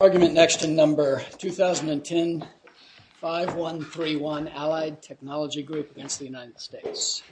ARGUMENT NEXT TO NUMBER 2010-5131 ALLIED TECHNOLOGY GROUP v. United States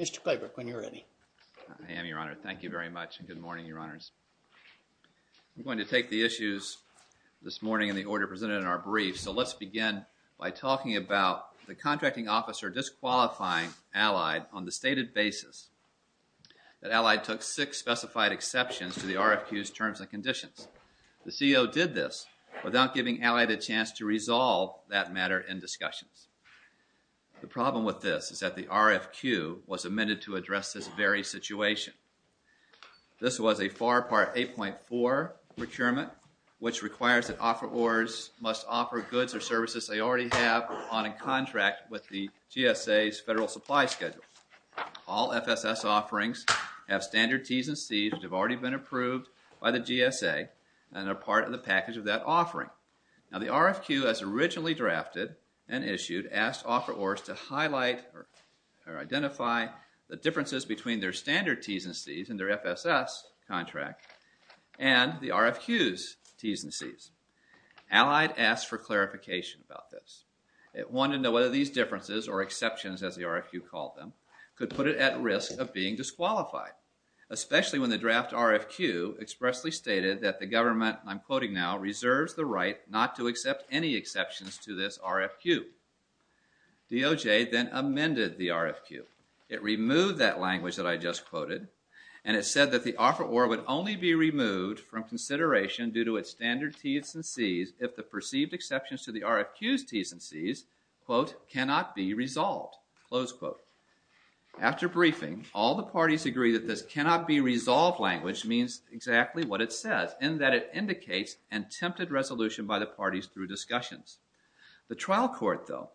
Mr. Klobuchar, when you're ready. I am, Your Honor. Thank you very much and good morning, Your Honors. I'm going to take the issues this morning in the order presented in our briefing by talking about the contracting officer disqualifying Allied on the stated basis that Allied took six specified exceptions to the RFQ's terms and conditions. The CEO did this without giving Allied a chance to resolve that matter in discussions. The problem with this is that the RFQ was amended to address this very situation. This was a FAR Part 8.4 procurement which requires that offerors must offer goods or services they already have on a contract with the GSA's Federal Supply Schedule. All FSS offerings have standard Ts and Cs which have already been approved by the GSA and are part of the package of that offering. Now the RFQ as originally drafted and issued asked offerors to highlight or identify the differences between their standard Ts and Cs in their FSS contract and the RFQ's Ts and Cs. Allied asked for clarification about this. It wanted to know whether these differences or exceptions as the RFQ called them could put it at risk of being disqualified, especially when the draft RFQ expressly stated that the government, I'm quoting now, reserves the right not to accept any exceptions to this RFQ. DOJ then amended the RFQ. It removed that language that I just quoted and it said that the offeror would only be removed from consideration due to its standard Ts and Cs if the perceived exceptions to the RFQ's Ts and Cs, quote, cannot be resolved, close quote. After briefing, all the parties agree that this cannot be resolved language means exactly what it says in that it indicates an attempted resolution by the parties through discussions. The trial court, though,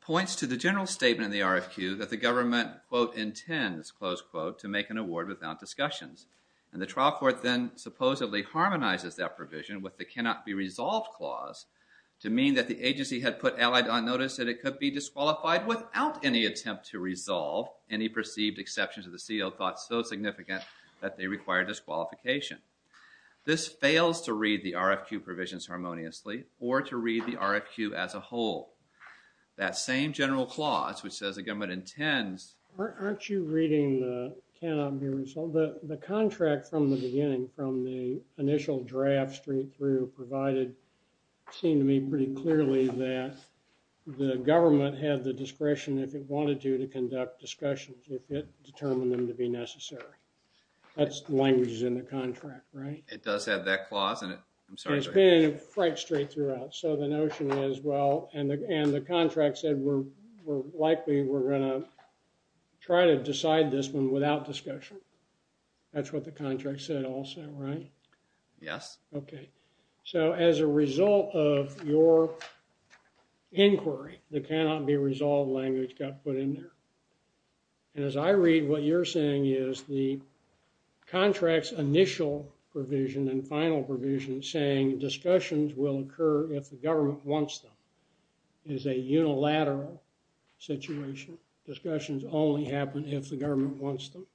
points to the general statement in the RFQ that the government, quote, intends, close quote, to make an award without discussions. And the trial court then supposedly harmonizes that provision with the cannot be resolved clause to mean that the agency had put Allied on notice that it could be disqualified without any attempt to resolve any perceived exceptions to the CO thought so significant that they require disqualification. This fails to read the RFQ provisions harmoniously or to read the RFQ as a whole. That same general clause which says the government intends. Aren't you reading the cannot be resolved? The contract from the beginning, from the initial draft straight through provided seemed to me pretty clearly that the government had the discretion if it wanted to to conduct discussions if it determined them to be necessary. That's the language that's in the contract, right? It does have that clause in it. I'm sorry. It's been quite straight throughout. So the notion is, well, and the contract said we're likely we're going to try to decide this one without discussion. That's what the contract said also, right? Yes. OK. So as a result of your inquiry, the cannot be resolved language got put in there. And as I read what you're saying is the contract's initial provision and final provision saying discussions will occur if the government wants them is a unilateral situation. Discussions only happen if the government wants them.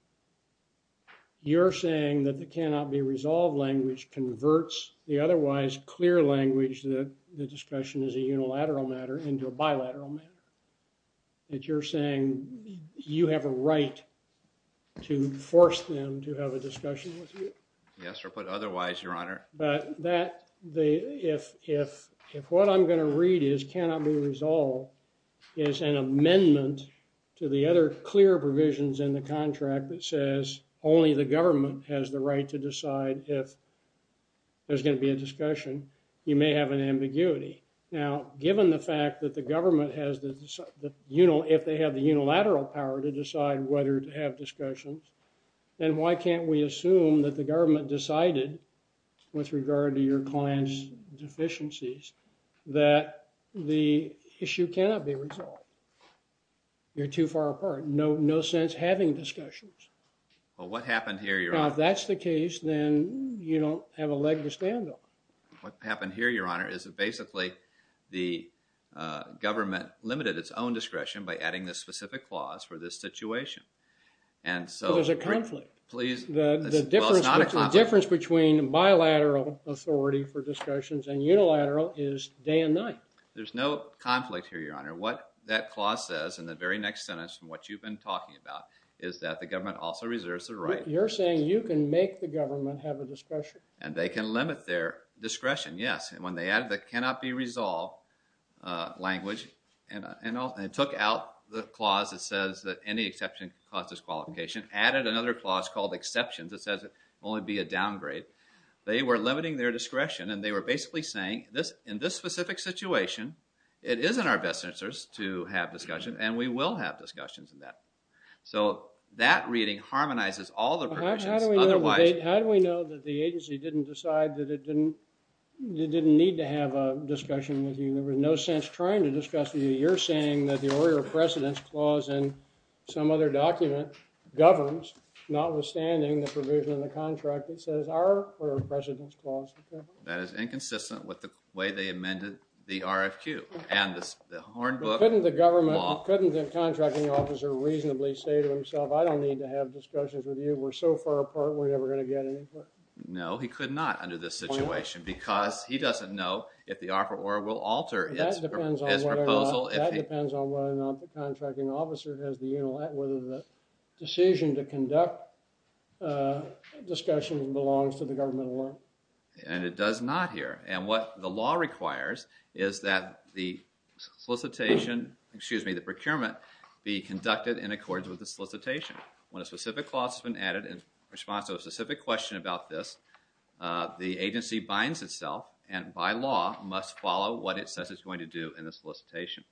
You're saying that the cannot be resolved language converts the otherwise clear language that the discussion is a unilateral matter into a bilateral matter. That you're saying you have a right to force them to have a discussion with you. Yes, or put otherwise, Your Honor. But that if what I'm going to read is cannot be resolved is an amendment to the other clear provisions in the contract that says only the government has the right to decide if there's going to be a discussion, you may have an ambiguity. Now, given the fact that the government has the, you know, if they have the unilateral power to decide whether to have discussions, then why can't we assume that the government decided with regard to your client's deficiencies that the issue cannot be resolved? You're too far apart. No, no sense having discussions. Well, what happened here, Your Honor? Now, if that's the case, then you don't have a leg to stand on. What happened here, Your Honor, is that basically the government limited its own discretion by adding this specific clause for this situation. And so there's a conflict. The difference between bilateral authority for discussions and unilateral is day and night. There's no conflict here, Your Honor. What that clause says in the very next sentence from what you've been talking about is that the government also reserves the right. You're saying you can make the government have a discussion. And they can limit their discretion to resolve language. And it took out the clause that says that any exception causes qualification, added another clause called exceptions that says it can only be a downgrade. They were limiting their discretion, and they were basically saying, in this specific situation, it isn't our best interest to have discussion, and we will have discussions. So that reading harmonizes all the provisions. How do we know that the agency didn't decide that it didn't need to have a discussion with you? There was no sense trying to discuss with you. You're saying that the order of precedence clause in some other document governs, notwithstanding the provision in the contract that says our order of precedence clause. That is inconsistent with the way they amended the RFQ and the Hornbook law. Couldn't the government, couldn't the contracting officer reasonably say to himself, I don't need to have discussions with you. We're so far apart, we're never going to get anywhere. No, he could not under this situation, because he doesn't know if the RFQ will alter his proposal. That depends on whether or not the contracting officer has the, you know, whether the decision to conduct discussion belongs to the government alone. And it does not here. And what the law requires is that the solicitation, excuse me, the procurement be conducted in accordance with the solicitation. When a specific clause has been added in response to a specific question about this, the agency binds itself and by law must follow what it says it's going to do in the solicitation.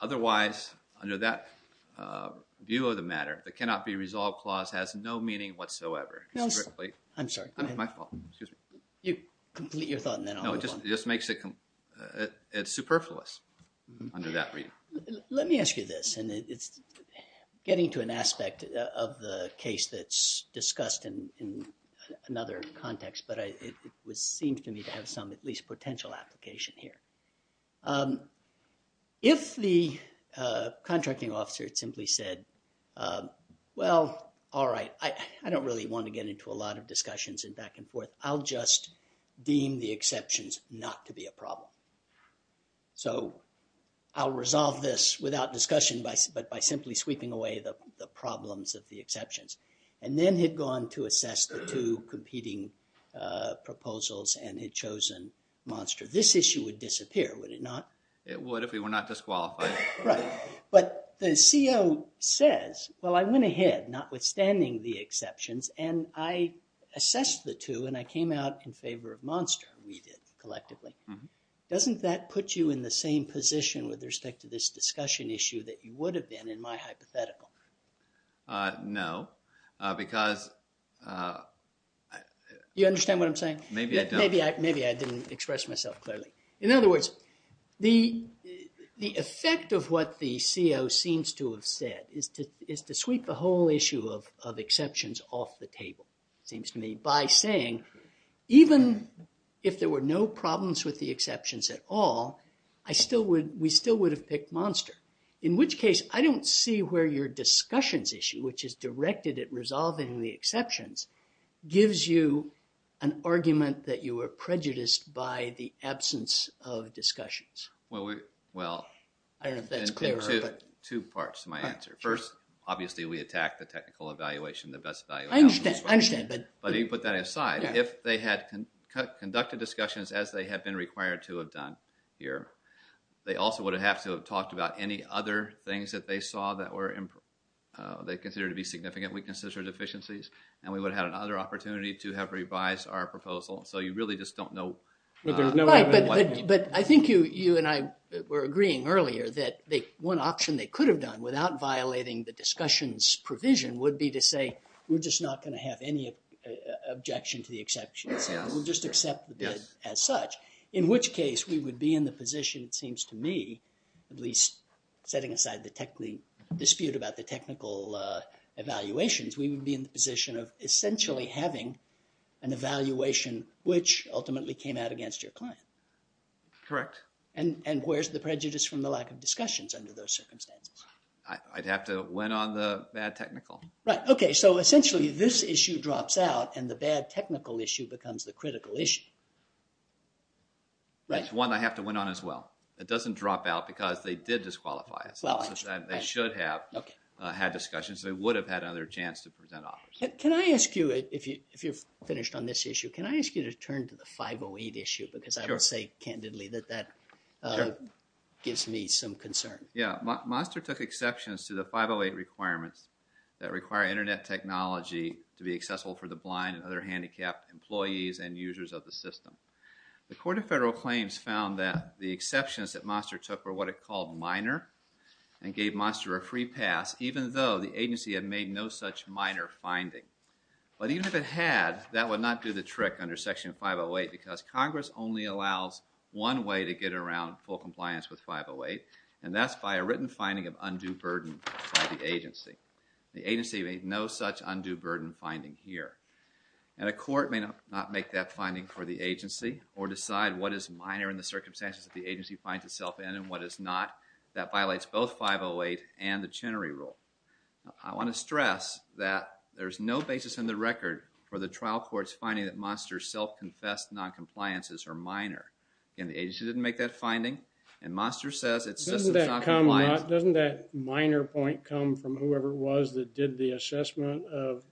Otherwise, under that view of the matter, the cannot be resolved clause has no meaning whatsoever. I'm sorry. My fault, excuse me. You complete your thought and then I'll move on. No, it just makes it, it's superfluous under that read. Let me ask you this, and it's getting to an aspect of the case that's discussed in another context, but it seems to me to have some at least potential application here. If the contracting officer simply said, well, all right, I don't really want to get into a lot of discussions and back and but by simply sweeping away the problems of the exceptions and then had gone to assess the two competing proposals and had chosen Monster, this issue would disappear, would it not? It would if we were not disqualified. Right. But the CO says, well, I went ahead, notwithstanding the exceptions, and I assessed the two and I came out in favor of Monster. We did collectively. Doesn't that put you in the same position with respect to this discussion issue that you would have been in my hypothetical? No, because... You understand what I'm saying? Maybe I don't. Maybe I didn't express myself clearly. In other words, the effect of what the CO seems to have said is to sweep the whole issue of exceptions off the table, seems to me, by saying even if there were no problems with the exceptions at all, I still would, we still would have picked Monster. In which case, I don't see where your discussions issue, which is directed at resolving the exceptions, gives you an argument that you were prejudiced by the absence of discussions. Well, I don't know if that's clear. Two parts to my answer. First, obviously, we attack the conducted discussions as they have been required to have done here. They also would have to have talked about any other things that they saw that were, they consider to be significant weaknesses or deficiencies, and we would have had another opportunity to have revised our proposal. So you really just don't know. But I think you and I were agreeing earlier that the one option they could have done without violating the discussions provision would be to say, we're just not going to have any objection to the exceptions. We'll just accept the bid as such. In which case, we would be in the position, it seems to me, at least setting aside the technical dispute about the technical evaluations, we would be in the position of essentially having an evaluation which ultimately came out against your client. Correct. And where's the prejudice from the lack of discussions under those circumstances? I'd have to went on the bad technical. Right. Okay. So essentially, this issue drops out and bad technical issue becomes the critical issue. Right. That's one I have to went on as well. It doesn't drop out because they did disqualify us. They should have had discussions. They would have had another chance to present offers. Can I ask you, if you're finished on this issue, can I ask you to turn to the 508 issue? Because I would say candidly that that gives me some concern. Yeah. Monster took exceptions to the 508 requirements that require internet technology to be accessible for the blind and other handicapped employees and users of the system. The Court of Federal Claims found that the exceptions that Monster took were what it called minor and gave Monster a free pass even though the agency had made no such minor finding. But even if it had, that would not do the trick under Section 508 because Congress only allows one way to get around full compliance with 508 and that's by a written finding of undue burden by the agency. The agency made no such undue burden finding here. And a court may not make that finding for the agency or decide what is minor in the circumstances that the agency finds itself in and what is not. That violates both 508 and the Chenery Rule. I want to stress that there's no basis in the record for the trial court's finding that Monster's self-confessed non-compliances are minor. Again, the agency didn't make that finding and Monster says it's Doesn't that minor point come from whoever it was that did the assessment of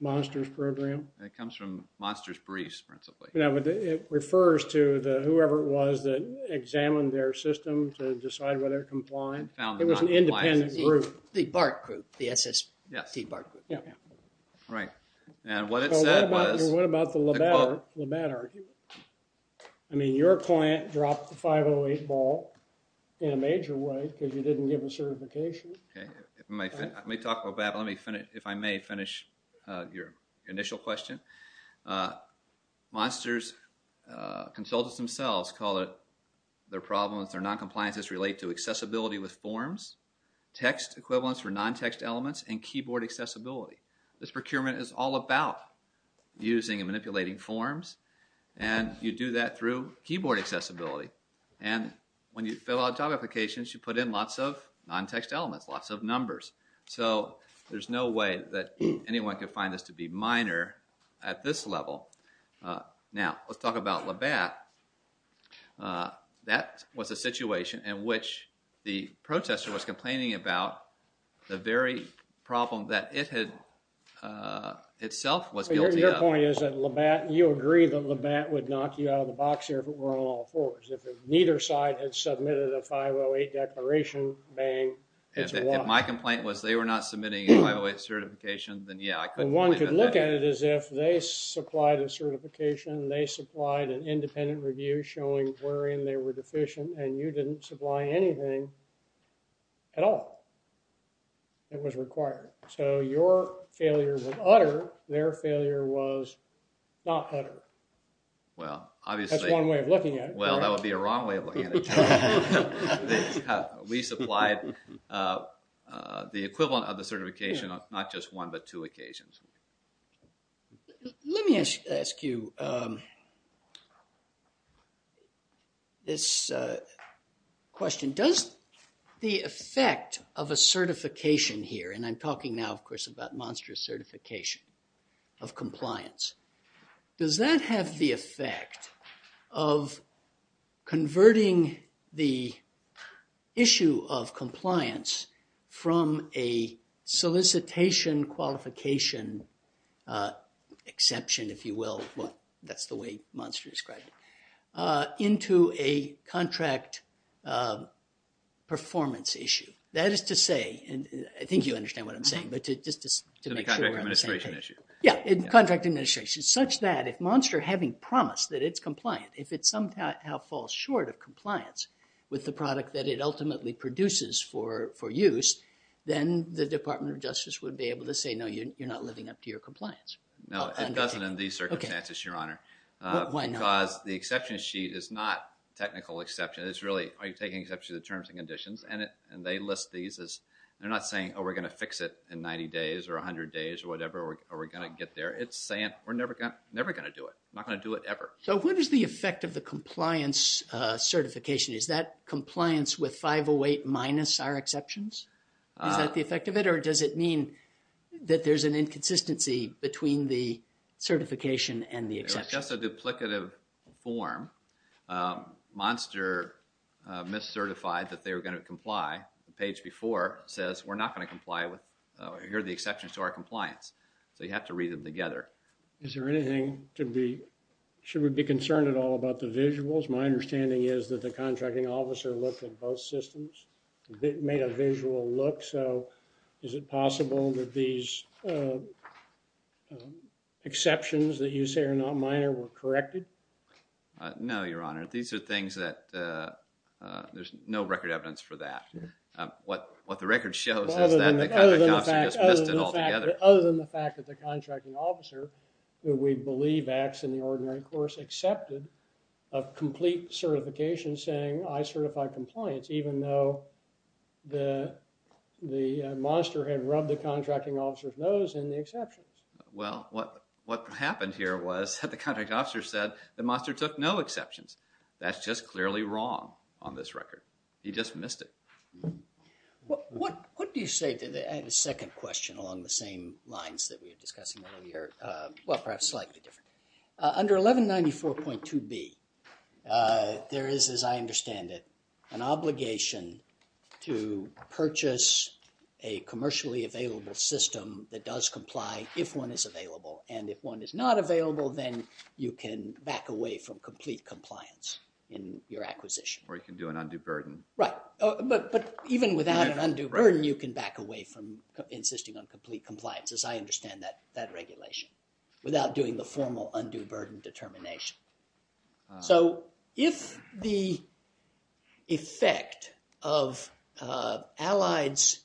Monster's program? It comes from Monster's briefs principally. Yeah, but it refers to the whoever it was that examined their system to decide whether it complied. It was an independent group. The BART group, the SSB BART group. Yeah, right. And what it said was. What about the Labatt argument? I mean your client dropped the 508 ball in a major way because you didn't give a certification. Okay, let me talk about that. Let me finish, if I may, finish your initial question. Monster's consultants themselves call it their problems, their non-compliances relate to accessibility with forms, text equivalence for non-text elements, and keyboard accessibility. This procurement is all about using and manipulating forms and you do that through keyboard accessibility. And when you fill out job applications, you put in lots of non-text elements, lots of numbers. So there's no way that anyone could find this to be minor at this level. Now let's talk about Labatt. That was a situation in which the protester was uh, itself was guilty. Your point is that Labatt, you agree that Labatt would knock you out of the box here if it were on all fours. If neither side had submitted a 508 declaration, bang. If my complaint was they were not submitting a 508 certification, then yeah. One could look at it as if they supplied a certification, they supplied an independent review showing wherein they were failure with utter, their failure was not utter. Well, obviously, that's one way of looking at it. Well, that would be a wrong way of looking at it. We supplied the equivalent of the certification not just one but two occasions. Let me ask you this question. Does the effect of a certification here, and I'm talking now of course about Monster's certification of compliance, does that have the effect of converting the issue of compliance from a solicitation qualification exception, if you will, that's the way Monster described it, into a contract performance issue? That is to say, and I think you understand what I'm saying, but just to make sure we're on the same page. Yeah, in contract administration, such that if Monster, having promised that it's compliant, if it somehow falls short of compliance with the product that it ultimately produces for use, then the Department of Justice would be able to say, no, you're not living up to your compliance. No, it doesn't in these circumstances, Your Honor, because the exception sheet is not technical exception. It's really, are you taking exception to the terms and conditions? And they list these as, they're not saying, oh, we're going to fix it in 90 days or 100 days or whatever, or we're going to get there. It's saying we're never going to do it, not going to do it ever. So what is the effect of the compliance certification? Is that compliance with 508 minus our exceptions? Is that the effect of it or does it mean that there's an inconsistency between the certification and the exception? It's just a duplicative form. Monster mis-certified that they were going to comply. The page before says we're not going to comply with, here are the exceptions to our compliance. So you have to read them together. Is there anything to be, should we be concerned at all about the visuals? My understanding is that the contracting officer looked at both systems, made a visual look. So is it possible that these exceptions that you say are not minor were corrected? No, Your Honor. These are things that, there's no record evidence for that. What, what the record shows is that the contractor just messed it all together. Other than the fact that the contracting officer, who we believe acts in the ordinary course, accepted a complete certification saying I certify compliance even though the, the monster had rubbed the contracting officer's nose in the exceptions. Well, what, what happened here was that the contract officer said the monster took no exceptions. That's just clearly wrong on this record. He just missed it. What, what do you say to the, I have a second question along the same lines that we were discussing earlier. Well, perhaps slightly different. Under 1194.2b, there is, as I understand it, an obligation to purchase a commercially available system that does comply if one is available. And if one is not available, then you can back away from complete compliance in your acquisition. Or you can do an undue burden. Right. But, but even without an undue burden, you can back away from insisting on complete compliance, as I understand that, that regulation without doing the formal undue burden determination. So if the effect of Allied's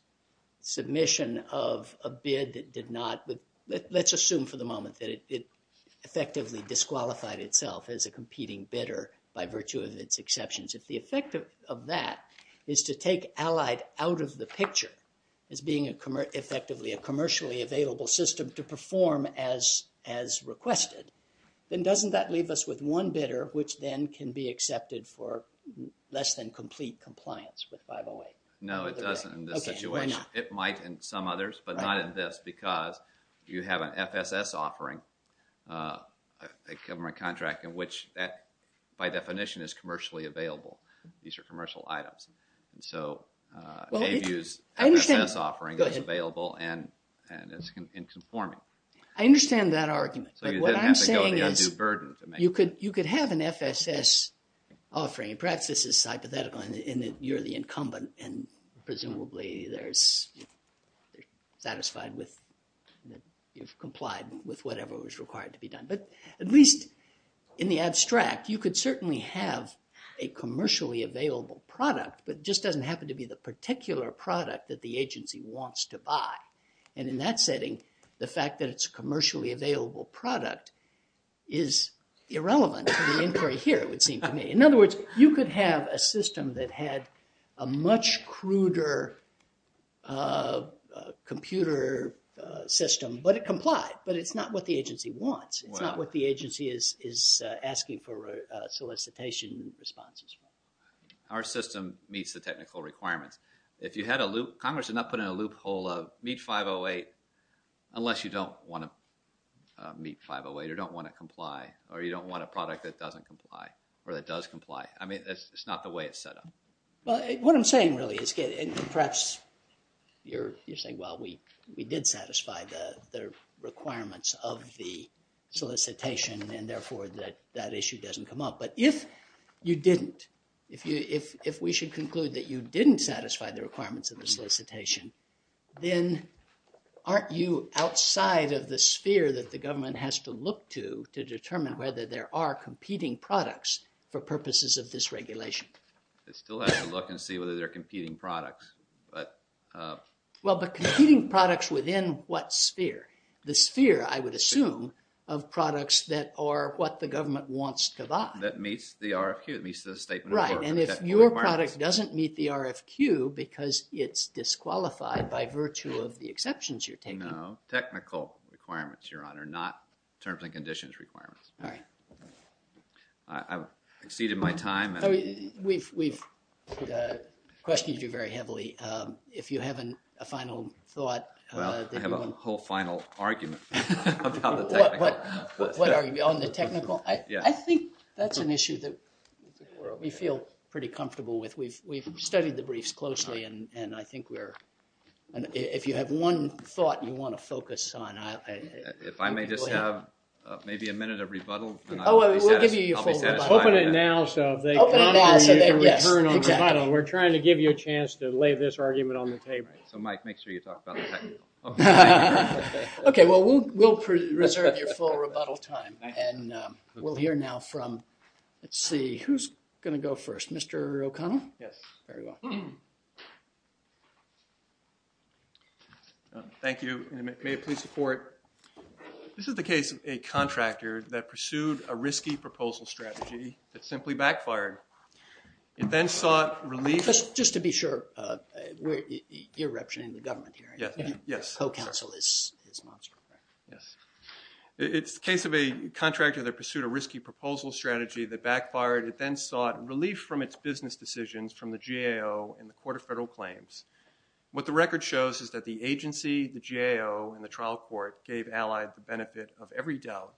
submission of a bid that did not, let's assume for the moment that it effectively disqualified itself as a competing bidder by virtue of its exceptions. If the effect of that is to take Allied out of the picture as being a commercially, effectively a commercially available system to perform as, as requested, then doesn't that leave us with one bidder, which then can be accepted for less than complete compliance with 508? No, it doesn't in this situation. It might in some others, but not in this because you have an FSS offering, a government contract in which that by definition is commercially available. These are commercial items. And so, uh, AVU's FSS offering is available and, and it's conforming. I understand that argument, but what I'm saying is, you could, you could have an FSS offering. Perhaps this is hypothetical in that you're the incumbent and presumably there's, they're satisfied with, you've complied with whatever was required to be done. But at least in the abstract, you could certainly have a commercially available product, but it just doesn't happen to be the particular product that the agency wants to buy. And in that setting, the fact that it's a commercially available product is irrelevant to the inquiry here, it would seem to me. In other words, you could have a system that had a much cruder, uh, computer system, but it complied, but it's not what the agency wants. It's not what the agency is, is asking for solicitation responses. Our system meets the technical requirements. If you had a loop, Congress did not put in a loophole of meet 508 unless you don't want to meet 508 or don't want to comply or you don't want a product that doesn't comply or that does comply. I mean, it's not the way it's set up. Well, what I'm the requirements of the solicitation and therefore that that issue doesn't come up. But if you didn't, if you, if, if we should conclude that you didn't satisfy the requirements of the solicitation, then aren't you outside of the sphere that the government has to look to to determine whether there are competing products for purposes of this regulation? They still have to what sphere? The sphere, I would assume, of products that are what the government wants to buy. That meets the RFQ. It meets the statement. Right. And if your product doesn't meet the RFQ because it's disqualified by virtue of the exceptions you're taking. No, technical requirements, your honor, not terms and conditions requirements. All right. I've exceeded my time. We've, we've, uh, questioned you very heavily. Um, a final thought. Well, I have a whole final argument about the technical. What are you on the technical? Yeah. I think that's an issue that we feel pretty comfortable with. We've, we've studied the briefs closely and, and I think we're, and if you have one thought you want to focus on. If I may just have maybe a minute of rebuttal. Oh, we'll give you your full rebuttal. Open it now so they can return on the title. We're trying to give you a chance to lay this argument on the table. So Mike, make sure you talk about the technical. Okay. Well, we'll, we'll preserve your full rebuttal time. And, um, we'll hear now from, let's see, who's going to go first, Mr. O'Connell. Yes. Very well. Thank you. May it please the court. This is the case of a contractor that pursued a risky proposal strategy that simply backfired. It then sought relief. Just to be sure, uh, you're representing the government here. Yes. Yes. Co-counsel is, is Monster, correct? Yes. It's the case of a contractor that pursued a risky proposal strategy that backfired. It then sought relief from its business decisions from the GAO and the Court of Federal Claims. What the record shows is that the agency, the GAO, and the trial court gave allied the benefit of every doubt,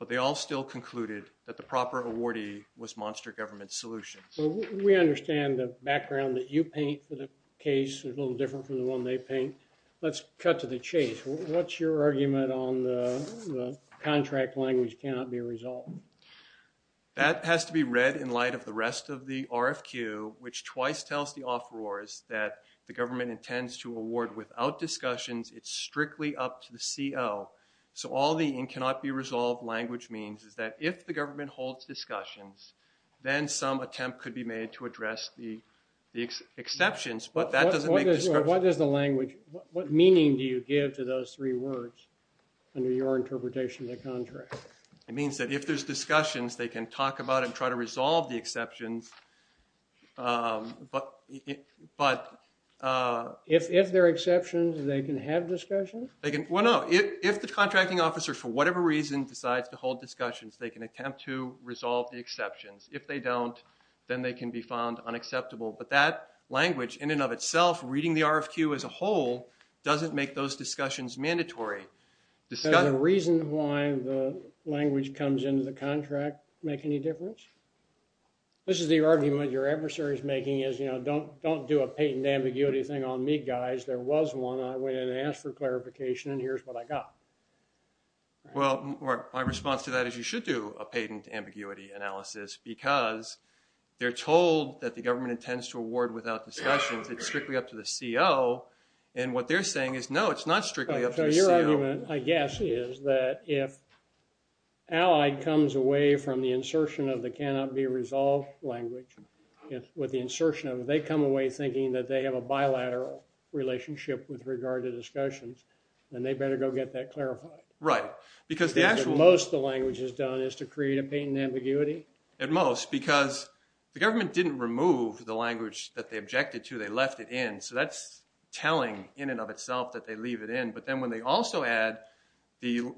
but they all still concluded that the proper awardee was Monster Government Solutions. We understand the background that you paint for the case is a little different from the one they paint. Let's cut to the chase. What's your argument on the contract language cannot be resolved? That has to be read in light of the rest of the RFQ, which twice tells the offerors that the government intends to award without discussions. It's strictly up to the CO. So all the in cannot be resolved language means is that if the government holds discussions, then some attempt could be made to address the exceptions, but that doesn't make sense. What is the language? What meaning do you give to those three words under your interpretation of the contract? It means that if there's discussions, they can talk about and try to resolve the exceptions, um, but, but, uh, if, if they're exceptions, they can have discussions. They can. Well, no, if, if the contracting officer, for whatever reason decides to hold discussions, they can attempt to resolve the exceptions. If they don't, then they can be found unacceptable. But that language in and of itself, reading the RFQ as a whole, doesn't make those discussions mandatory. The reason why the language comes into the contract make any difference? This is the argument your adversary is making is, you know, don't, don't do a patent ambiguity thing on me guys. There was one. I went in and asked for Well, my response to that is you should do a patent ambiguity analysis because they're told that the government intends to award without discussions. It's strictly up to the CO. And what they're saying is, no, it's not strictly up to the CO. So your argument, I guess, is that if Allied comes away from the insertion of the cannot be resolved language with the insertion of, they come away thinking that they have a bilateral relationship with regard to because the actual most the language is done is to create a patent ambiguity. At most, because the government didn't remove the language that they objected to, they left it in. So that's telling in and of itself that they leave it in. But then when they also add the,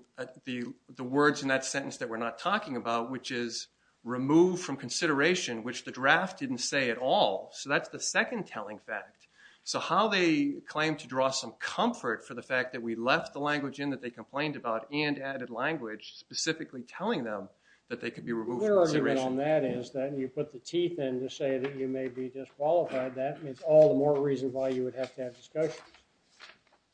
the, the words in that sentence that we're not talking about, which is removed from consideration, which the draft didn't say at all. So that's the second telling fact. So how they claim to draw some comfort for the fact that we left the language in that they complained about and added language specifically telling them that they could be removed. Your argument on that is that you put the teeth in to say that you may be disqualified. That means all the more reason why you would have to have discussions.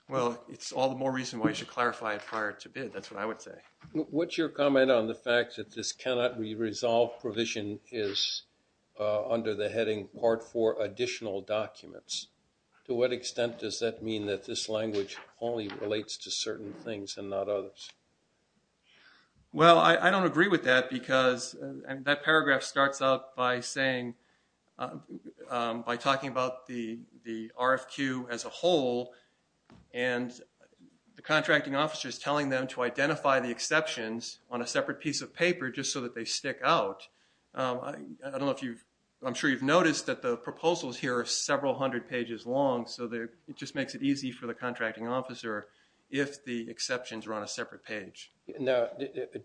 Well, it's all the more reason why you should clarify it prior to bid. That's what I would say. What's your comment on the fact that this cannot be resolved provision is under the heading part four additional documents. To what extent does that mean that this language only relates to things and not others? Well, I, I don't agree with that because that paragraph starts out by saying, by talking about the, the RFQ as a whole and the contracting officer is telling them to identify the exceptions on a separate piece of paper just so that they stick out. I don't know if you've, I'm sure you've noticed that the proposals here are several hundred pages long. So they're, just makes it easy for the contracting officer if the exceptions are on a separate page. Now,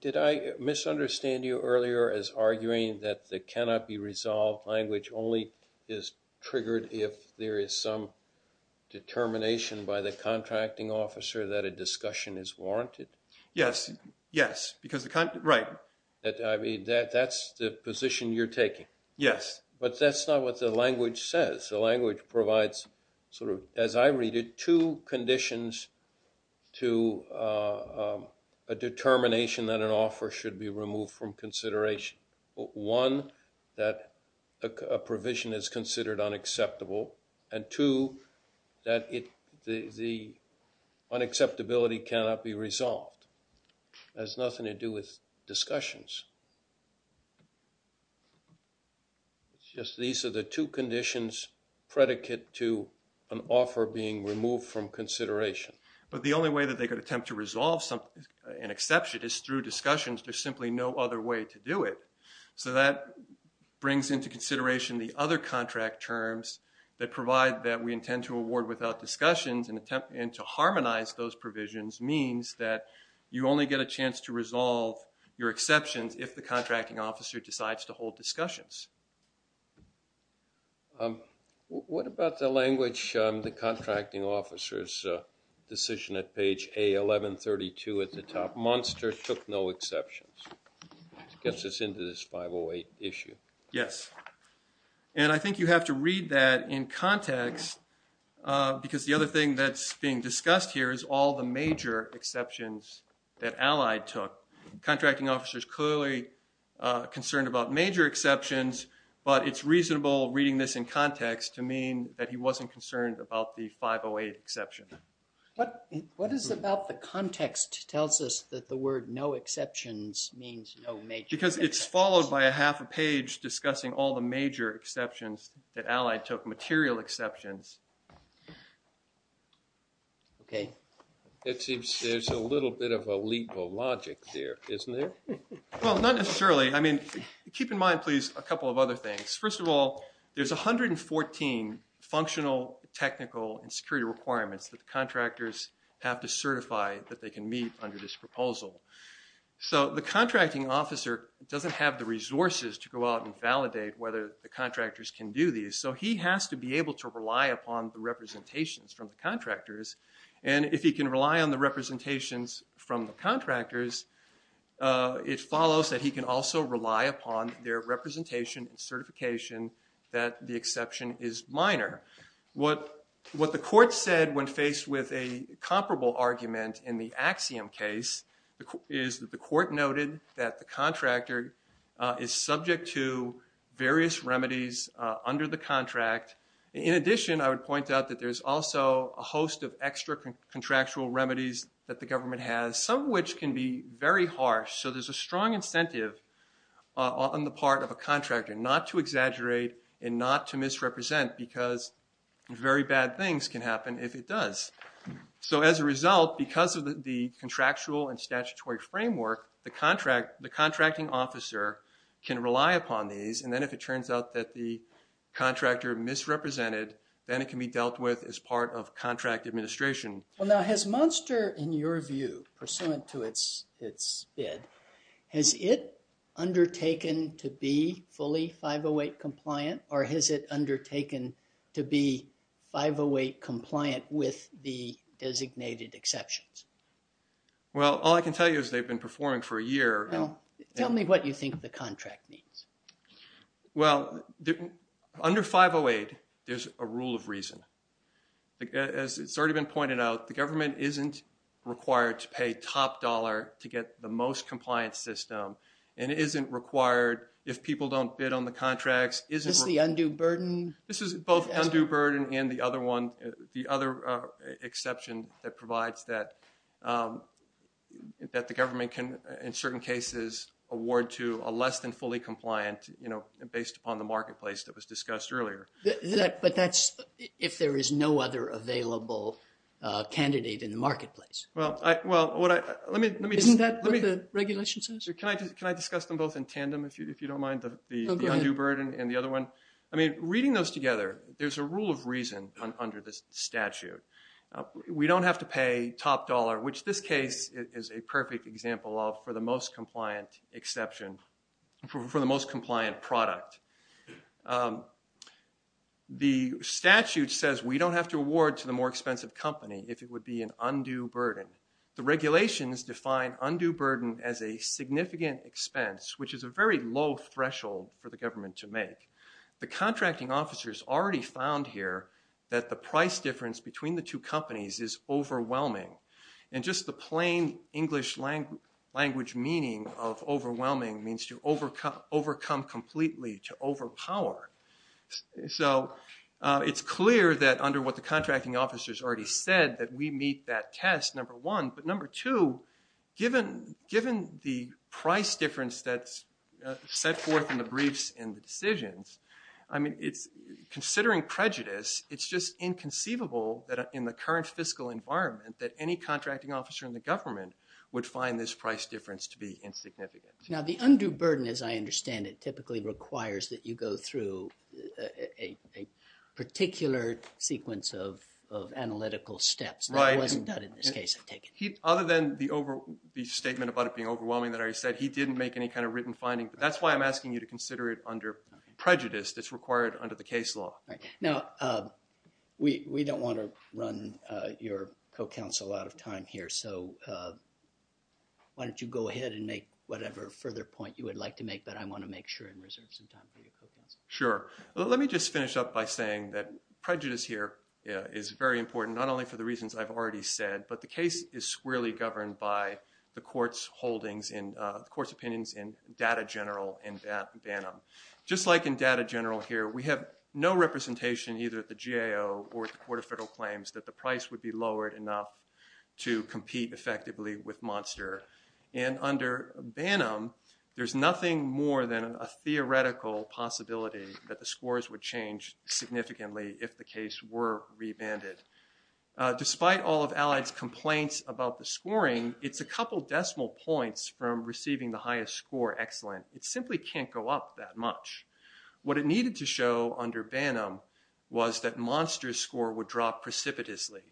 did I misunderstand you earlier as arguing that the cannot be resolved language only is triggered if there is some determination by the contracting officer that a discussion is warranted? Yes, yes. Because the, right. That, I mean, that, that's the position you're taking. Yes. But that's not what the language says. The language provides sort of, as I read it, two conditions to a determination that an offer should be removed from consideration. One, that a provision is considered unacceptable and two, that it, the, the unacceptability cannot be resolved. That has nothing to do with discussions. It's just these are the two conditions predicate to an offer being removed from consideration. But the only way that they could attempt to resolve something, an exception, is through discussions. There's simply no other way to do it. So that brings into consideration the other contract terms that provide that we intend to award without discussions and attempt, and to you only get a chance to resolve your exceptions if the contracting officer decides to hold discussions. What about the language on the contracting officer's decision at page A1132 at the top? Monster took no exceptions. Gets us into this 508 issue. Yes. And I think you have to read that in context because the other thing that's being discussed here is all the major exceptions that Allied took. Contracting officer's clearly concerned about major exceptions, but it's reasonable reading this in context to mean that he wasn't concerned about the 508 exception. What, what is about the context tells us that the word no exceptions means no major? Because it's followed by a half a page discussing all the major exceptions that Allied took, the material exceptions. Okay. It seems there's a little bit of a leap of logic there, isn't there? Well, not necessarily. I mean, keep in mind, please, a couple of other things. First of all, there's 114 functional, technical, and security requirements that the contractors have to certify that they can meet under this proposal. So the contracting officer doesn't have the resources to go out and validate whether the contractors can do these. So he has to be able to rely upon the representations from the contractors. And if he can rely on the representations from the contractors, it follows that he can also rely upon their representation and certification that the exception is minor. What the court said when faced with a comparable argument in the Axiom case is that the court noted that the contractor is subject to various remedies under the contract. In addition, I would point out that there's also a host of extra contractual remedies that the government has, some of which can be very harsh. So there's a strong incentive on the part of a contractor not to exaggerate and not to misrepresent because very bad things can happen if it does. So as a result, because of the contractual and statutory framework, the contracting officer can rely upon these. And then if it turns out that the contractor misrepresented, then it can be dealt with as part of contract administration. Well now, has Munster, in your view, pursuant to its bid, has it undertaken to be fully 508 compliant with the designated exceptions? Well, all I can tell you is they've been performing for a year. Tell me what you think the contract means. Well, under 508, there's a rule of reason. As it's already been pointed out, the government isn't required to pay top dollar to get the most compliant system and isn't required if people don't bid on the contracts. Is this the undue burden? This is both undue burden and the other exception that provides that the government can, in certain cases, award to a less than fully compliant, you know, based upon the marketplace that was discussed earlier. But that's if there is no other available candidate in the marketplace. Isn't that what the regulation says? Can I discuss them both in tandem if you don't mind the undue burden and the other one? I mean, reading those together, there's a rule of reason under this statute. We don't have to pay top dollar, which this case is a perfect example of for the most compliant exception, for the most compliant product. The statute says we don't have to award to the more expensive company if it would be an undue burden. The regulations define undue burden as a significant expense, which is a very low threshold for the government to make. The contracting officers already found here that the price difference between the two companies is overwhelming. And just the plain English language meaning of overwhelming means to overcome completely, to overpower. So it's clear that under what the contracting officers already said that we meet that test, number one. But number two, given the price difference that's set forth in the briefs and the decisions, I mean, considering prejudice, it's just inconceivable that in the current fiscal environment that any contracting officer in the government would find this price difference to be insignificant. Now, the undue burden, as I understand it, typically requires that you go through a particular sequence of analytical steps. Right. That wasn't done in this case, I take it. Other than the statement about it being overwhelming that I said, he didn't make any kind of written finding, but that's why I'm asking you to consider it under prejudice that's required under the case law. Right. Now, we don't want to run your co-counsel a lot of time here, so why don't you go ahead and make whatever further point you would like to make that I want to make sure and reserve some time for your co-counsel. Sure. Let me just finish up by saying that prejudice here is very important, not only for the reasons I've already said, but the case is squarely governed by the court's holdings in, the court's opinions in Data General and BANM. Just like in Data General here, we have no representation either at the GAO or the Court of Federal Claims that the price would be lowered enough to compete effectively with And under BANM, there's nothing more than a theoretical possibility that the scores would change significantly if the case were rebanded. Despite all of Allied's complaints about the scoring, it's a couple decimal points from receiving the highest score, excellent. It simply can't go up that much. What it needed to show under BANM was that Monster's score would drop precipitously.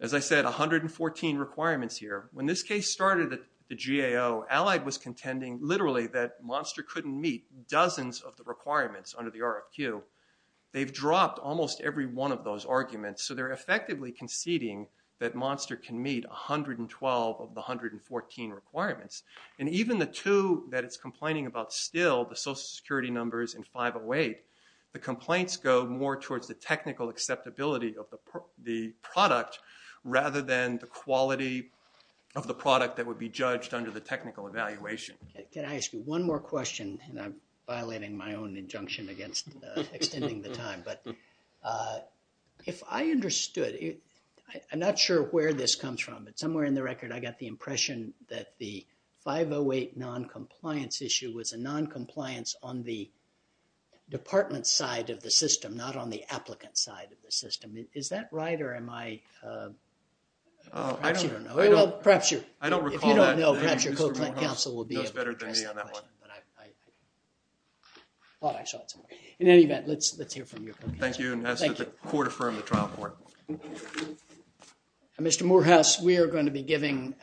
As I said, 114 requirements here. When this case started at the GAO, Allied was contending literally that Monster couldn't meet dozens of the requirements under the RFQ. They've dropped almost every one of those arguments, so they're effectively conceding that Monster can meet 112 of the 114 requirements. And even the two that it's complaining about still, the social security numbers in 508, the complaints go more towards the technical acceptability of the product rather than the quality of the product that would be judged under the technical evaluation. Can I ask you one more question? And I'm violating my own injunction against extending the time, but if I understood, I'm not sure where this comes from, but somewhere in the record I got the department side of the system, not on the applicant side of the system. Is that right or am I, oh, perhaps you don't know. Well, perhaps you. I don't recall that. If you don't know, perhaps your co-client counsel will be able to address that question, but I thought I saw it somewhere. In any event, let's hear from your co-counsel. Thank you and ask that the court affirm the trial court. Mr. Morehouse, we are going to be giving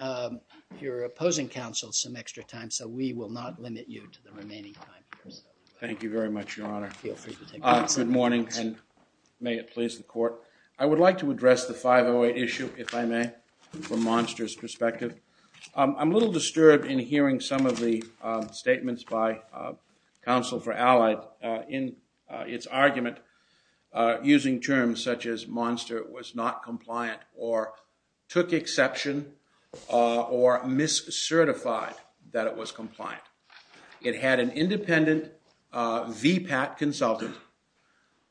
your opposing counsel some extra time, so we will not limit you to the remaining time. Thank you very much, Your Honor. Good morning and may it please the court. I would like to address the 508 issue, if I may, from Monster's perspective. I'm a little disturbed in hearing some of the statements by counsel for Allied in its argument using terms such as Monster was not compliant or took exception or mis-certified that it was compliant. It had an independent VPAT consultant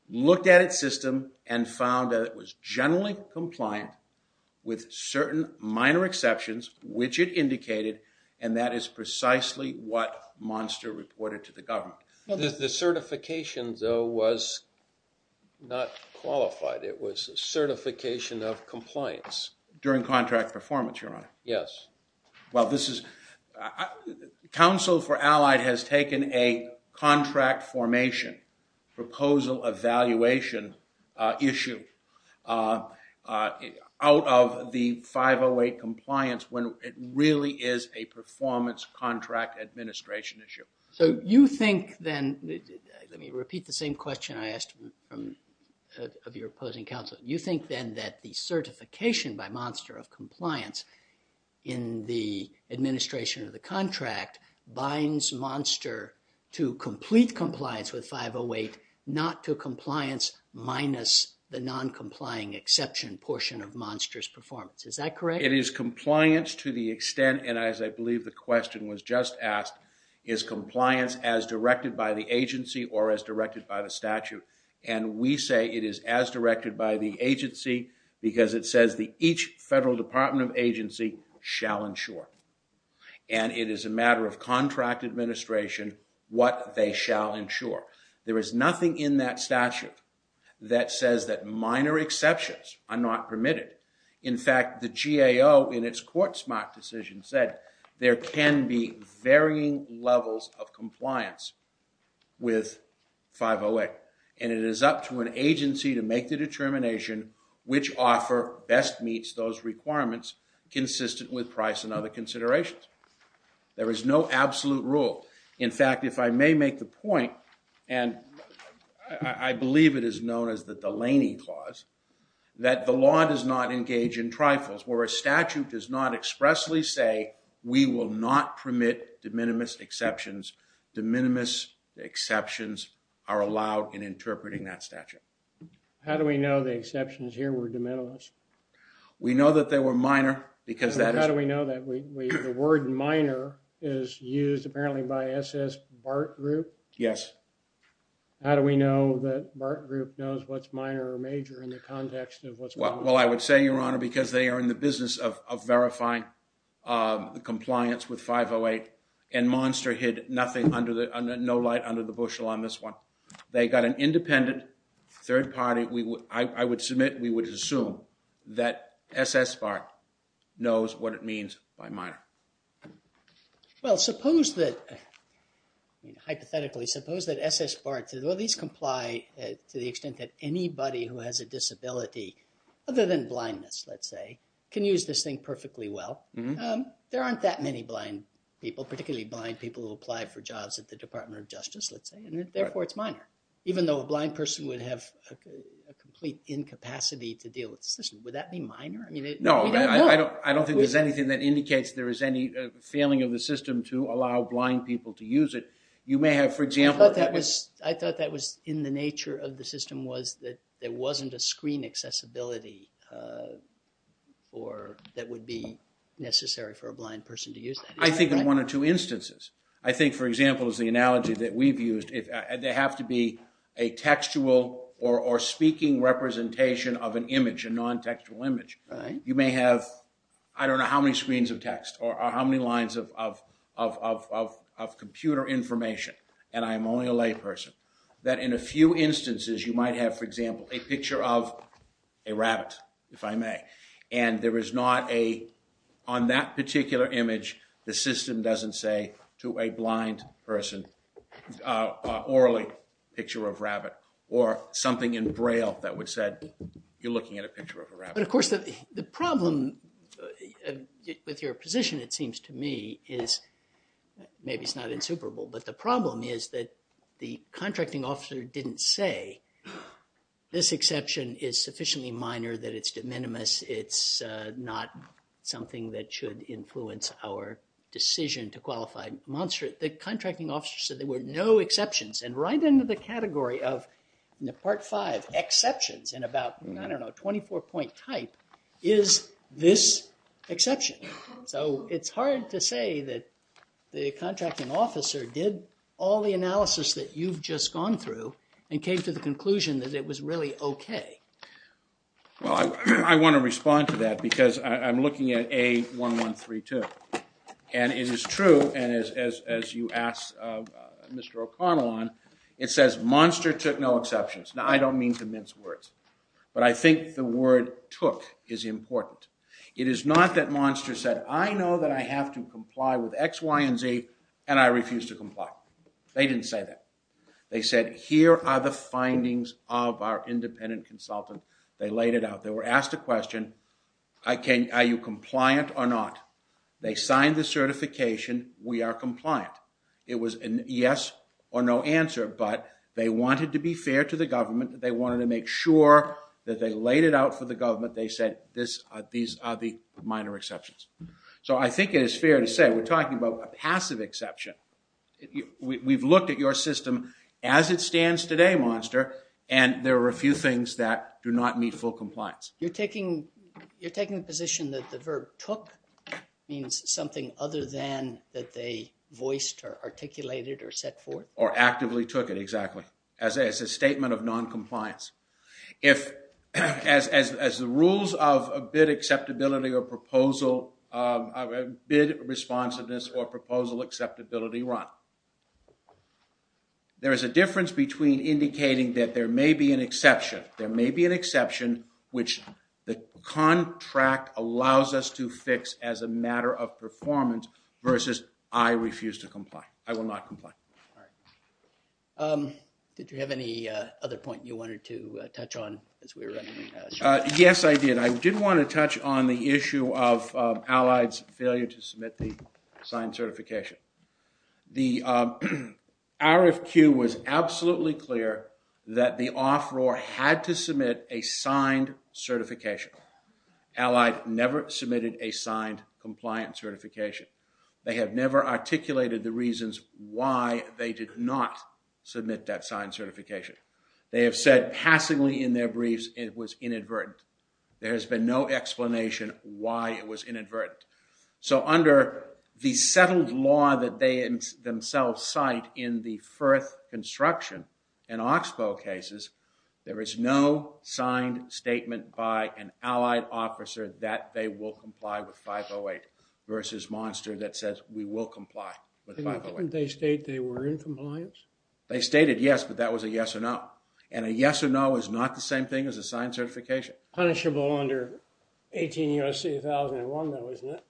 looked at its system and found that it was generally compliant with certain minor exceptions, which it indicated, and that is precisely what Monster reported to the government. The certification, though, was not qualified. It was certification of compliance. During contract performance, Your Honor? Yes. Well, this is, counsel for Allied has taken a contract formation proposal evaluation issue out of the 508 compliance when it really is a performance contract administration issue. So, you think then, let me repeat the same question I asked from your opposing counsel, you think then that the certification by Monster of compliance in the administration of the contract binds Monster to complete compliance with 508, not to compliance minus the non-complying exception portion of Monster's performance. Is that correct? It is compliance to the extent, and as I believe the question was just asked, is compliance as directed by the agency or as directed by the statute, and we say it is as directed by the agency because it says that each federal department of agency shall ensure, and it is a matter of contract administration, what they shall ensure. There is nothing in that statute that says that minor exceptions are not permitted. In fact, the GAO in its court-smart decision said there can be varying levels of compliance with 508, and it is up to an agency to make the determination which offer best meets those requirements consistent with price and other considerations. There is no absolute rule. In fact, if I may make the point, and I believe it is known as the Delaney Clause, that the law does not engage in trifles where a statute does not expressly say we will not permit de minimis exceptions. De minimis exceptions are allowed in interpreting that statute. How do we know the exceptions here were de minimis? We know that they were minor because that is... How do we know that the word minor is used apparently by S.S. Bart Group? Yes. How do we know that Bart Group knows what's minor or major in the business of verifying compliance with 508, and Monster hid nothing under the... No light under the bushel on this one. They got an independent third party. I would submit, we would assume that S.S. Bart knows what it means by minor. Well, suppose that... Hypothetically, suppose that S.S. Bart to at least comply to the extent that anybody who has a disability other than blindness, let's say, can use this thing perfectly well. There aren't that many blind people, particularly blind people who apply for jobs at the Department of Justice, let's say, and therefore it's minor, even though a blind person would have a complete incapacity to deal with the system. Would that be minor? No, I don't think there's anything that indicates there is any failing of the system to allow blind people to use it. You may have, for example... I thought that was in the nature of the system was there wasn't a screen accessibility that would be necessary for a blind person to use that. I think in one or two instances. I think, for example, is the analogy that we've used. They have to be a textual or speaking representation of an image, a non-textual image. You may have, I don't know how many screens of text or how many lines of computer information, and I'm only a layperson, that in a few instances you might have, for example, a picture of a rabbit, if I may, and there is not a... On that particular image, the system doesn't say to a blind person, orally, picture of rabbit, or something in braille that would say you're looking at a picture of a rabbit. Of course, the problem with your position, it seems to me, is maybe it's not insuperable, but the problem is that the contracting officer didn't say this exception is sufficiently minor that it's de minimis. It's not something that should influence our decision to qualify. The contracting officer said there were no exceptions, and right into the category of the part five exceptions in about, I don't know, 24-point type is this exception. So, it's hard to say that the contracting officer did all the analysis that you've just gone through and came to the conclusion that it was really okay. Well, I want to respond to that because I'm looking at A1132, and it is true, and as you asked Mr. O'Connell on, it says Monster took no exceptions. Now, I don't mean to mince words, but I think the word took is important. It is not that Monster said, I know that I have to comply with X, Y, and Z, and I refuse to comply. They didn't say that. They said, here are the findings of our independent consultant. They laid it out. They were asked a question, are you compliant or not? They signed the certification, we are compliant. It was a yes or no answer, but they wanted to be fair to the government. They wanted to make sure that they laid it out for the government. They said, these are the minor exceptions. So, I think it is fair to say we're talking about a passive exception. We've looked at your system as it stands today, Monster, and there are a few things that do not meet full compliance. You're taking the position that the verb took means something other than that they voiced or articulated or set forth? Or actively took it, exactly, as a statement of non-compliance. As the rules of a bid acceptability or proposal, bid responsiveness or proposal acceptability run, there is a difference between indicating that there may be an exception. There may be an exception which the contract allows us to fix as a matter of performance versus I refuse to Did you have any other point you wanted to touch on? Yes, I did. I did want to touch on the issue of Allied's failure to submit the signed certification. The RFQ was absolutely clear that the off-roar had to submit a signed certification. Allied never submitted a signed compliant certification. They have never articulated the reasons why they did not submit that signed certification. They have said passingly in their briefs it was inadvertent. There has been no explanation why it was inadvertent. So, under the settled law that they themselves cite in the Firth construction and Oxbow cases, there is no signed statement by an Allied officer that they will comply with 508 versus Monster that says we will comply with 508. Didn't they state they were in compliance? They stated yes, but that was a yes or no. And a yes or no is not the same thing as a signed certification. Punishable under 18 U.S.C. 1001 though, isn't it?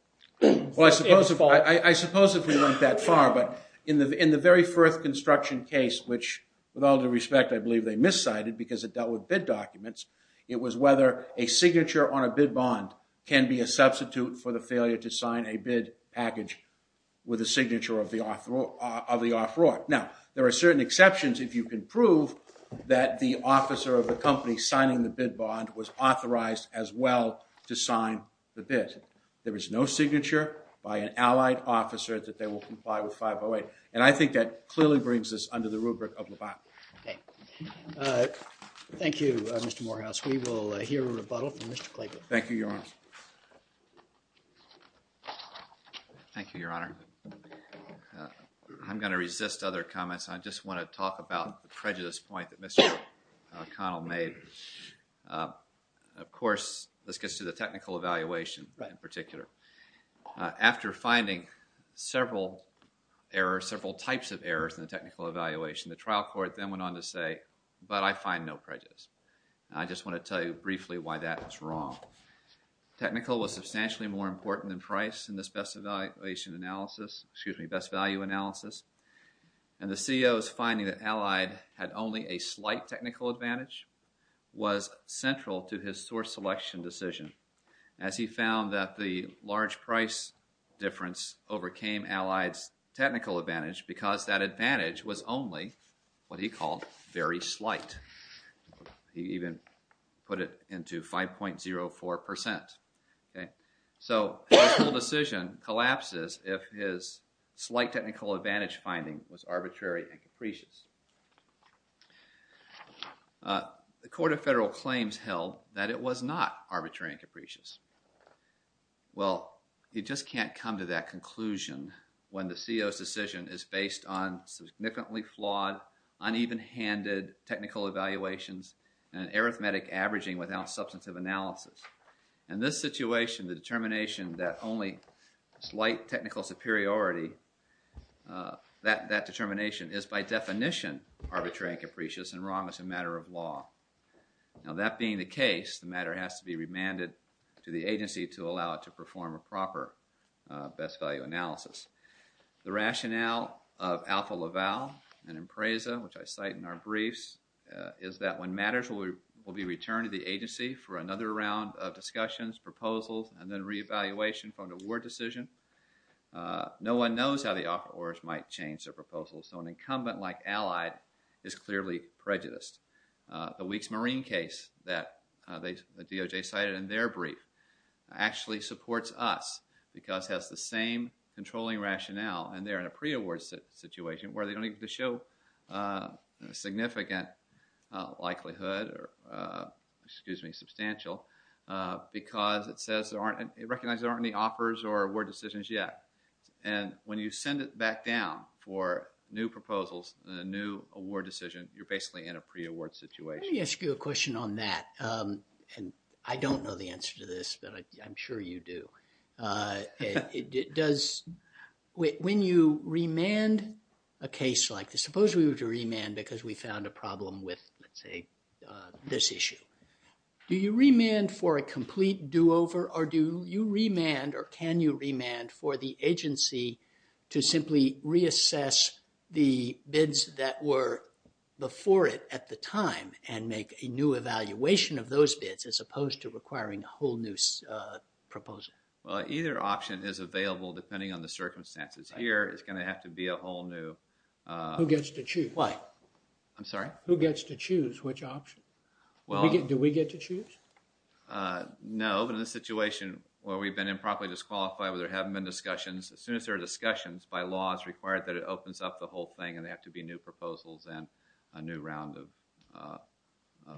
Well, I suppose if we went that far, but in the very Firth construction case, which with all due respect I believe they substitute for the failure to sign a bid package with a signature of the off-roar. Now, there are certain exceptions if you can prove that the officer of the company signing the bid bond was authorized as well to sign the bid. There is no signature by an Allied officer that they will comply with 508. And I think that clearly brings us under the rubric of LeBanon. Okay. Thank you, Mr. Morehouse. We will hear a rebuttal from Mr. Clayton. Thank you, Your Honor. Thank you, Your Honor. I'm going to resist other comments. I just want to talk about the prejudice point that Mr. O'Connell made. Of course, this gets to the technical evaluation in particular. After finding several errors, several types of errors in the technical evaluation, the trial court then went on to say, but I find no prejudice. I just want to tell you briefly why that was wrong. Technical was substantially more important than price in this best evaluation analysis, excuse me, best value analysis. And the CEO's finding that Allied had only a slight technical advantage was central to his source selection decision. As he found that the large price difference overcame Allied's technical advantage because that advantage was only what he called very slight. He even put it into 5.04 percent. Okay. So, the decision collapses if his slight technical advantage finding was arbitrary and capricious. The Court of Federal Claims held that it was not arbitrary and capricious. Well, you just can't come to that conclusion when the CEO's decision is based on significantly flawed, uneven-handed technical evaluations and arithmetic averaging without substantive analysis. In this situation, the determination that only slight technical superiority, that determination is by definition arbitrary and capricious and wrong as a matter of law. Now, that being the agency to allow it to perform a proper best value analysis. The rationale of Alpha Laval and Impreza, which I cite in our briefs, is that when matters will be returned to the agency for another round of discussions, proposals, and then reevaluation for an award decision, no one knows how the offerors might change their proposals. So, an incumbent like Allied is clearly prejudiced. The Weeks Marine case that DOJ cited in their brief actually supports us because it has the same controlling rationale and they're in a pre-award situation where they don't need to show a significant likelihood or, excuse me, substantial because it says there aren't, it recognizes there aren't any offerors or award decisions yet. And when you send it back down for new proposals, a new award decision, you're basically in a pre-award situation. Let me ask you a question on that. And I don't know the answer to this, but I'm sure you do. Does, when you remand a case like this, suppose we were to remand because we found a problem with, let's say, this issue. Do you remand for a complete do-over or do you remand or can you ask the agency to simply reassess the bids that were before it at the time and make a new evaluation of those bids as opposed to requiring a whole new proposal? Well, either option is available depending on the circumstances. Here, it's going to have to be a whole new... Who gets to choose? What? I'm sorry? Who gets to choose which option? Well... Do we get to choose? No, but in a situation where we've been improperly disqualified, where there haven't been discussions, as soon as there are discussions, by law, it's required that it opens up the whole thing and they have to be new proposals and a new round of, uh...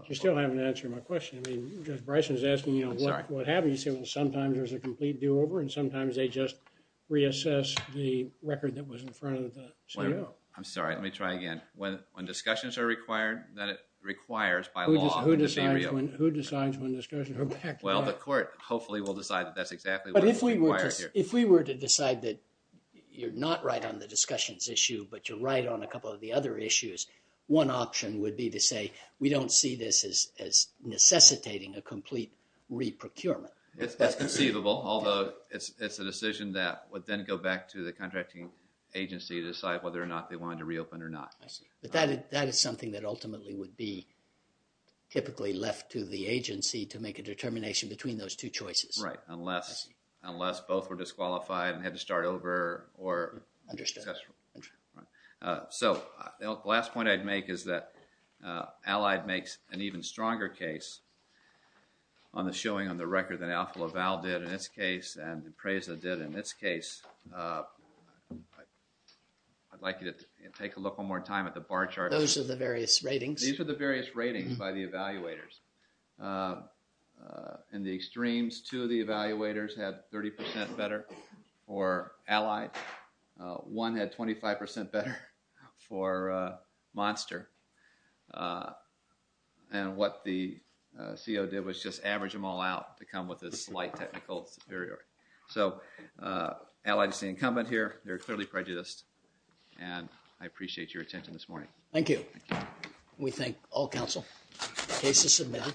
You're still having to answer my question. I mean, Judge Bryson is asking, you know, what, what happens? You say, well, sometimes there's a complete do-over and sometimes they just reassess the record that was in front of the CIO. I'm sorry, let me try again. When, when discussions are required, then it requires by law... Who decides when, who decides when discussions are required? Well, the court hopefully will decide that that's exactly what is required here. If we were to decide that you're not right on the discussions issue, but you're right on a couple of the other issues, one option would be to say, we don't see this as, as necessitating a complete re-procurement. It's conceivable, although it's, it's a decision that would then go back to the contracting agency to decide whether or not they wanted to reopen or not. I see. But that, that is something that ultimately would be typically left to the agency to make a determination between those two choices. Right, unless, unless both were disqualified and had to start over or... Understood. So, the last point I'd make is that Allied makes an even stronger case on the showing on the record than Alpha Laval did in this case and Impreza did in this case. I'd like you to take a look one more time at the bar charts. Those are the various ratings. These are the various ratings by the evaluators. In the extremes, two of the evaluators had 30 percent better for Allied, one had 25 percent better for Monster, and what the CO did was just average them all out to come with a slight technical superiority. So, Allied is the incumbent here. They're clearly prejudiced and I appreciate your attention this morning. Thank you. We thank all counsel. Case is submitted.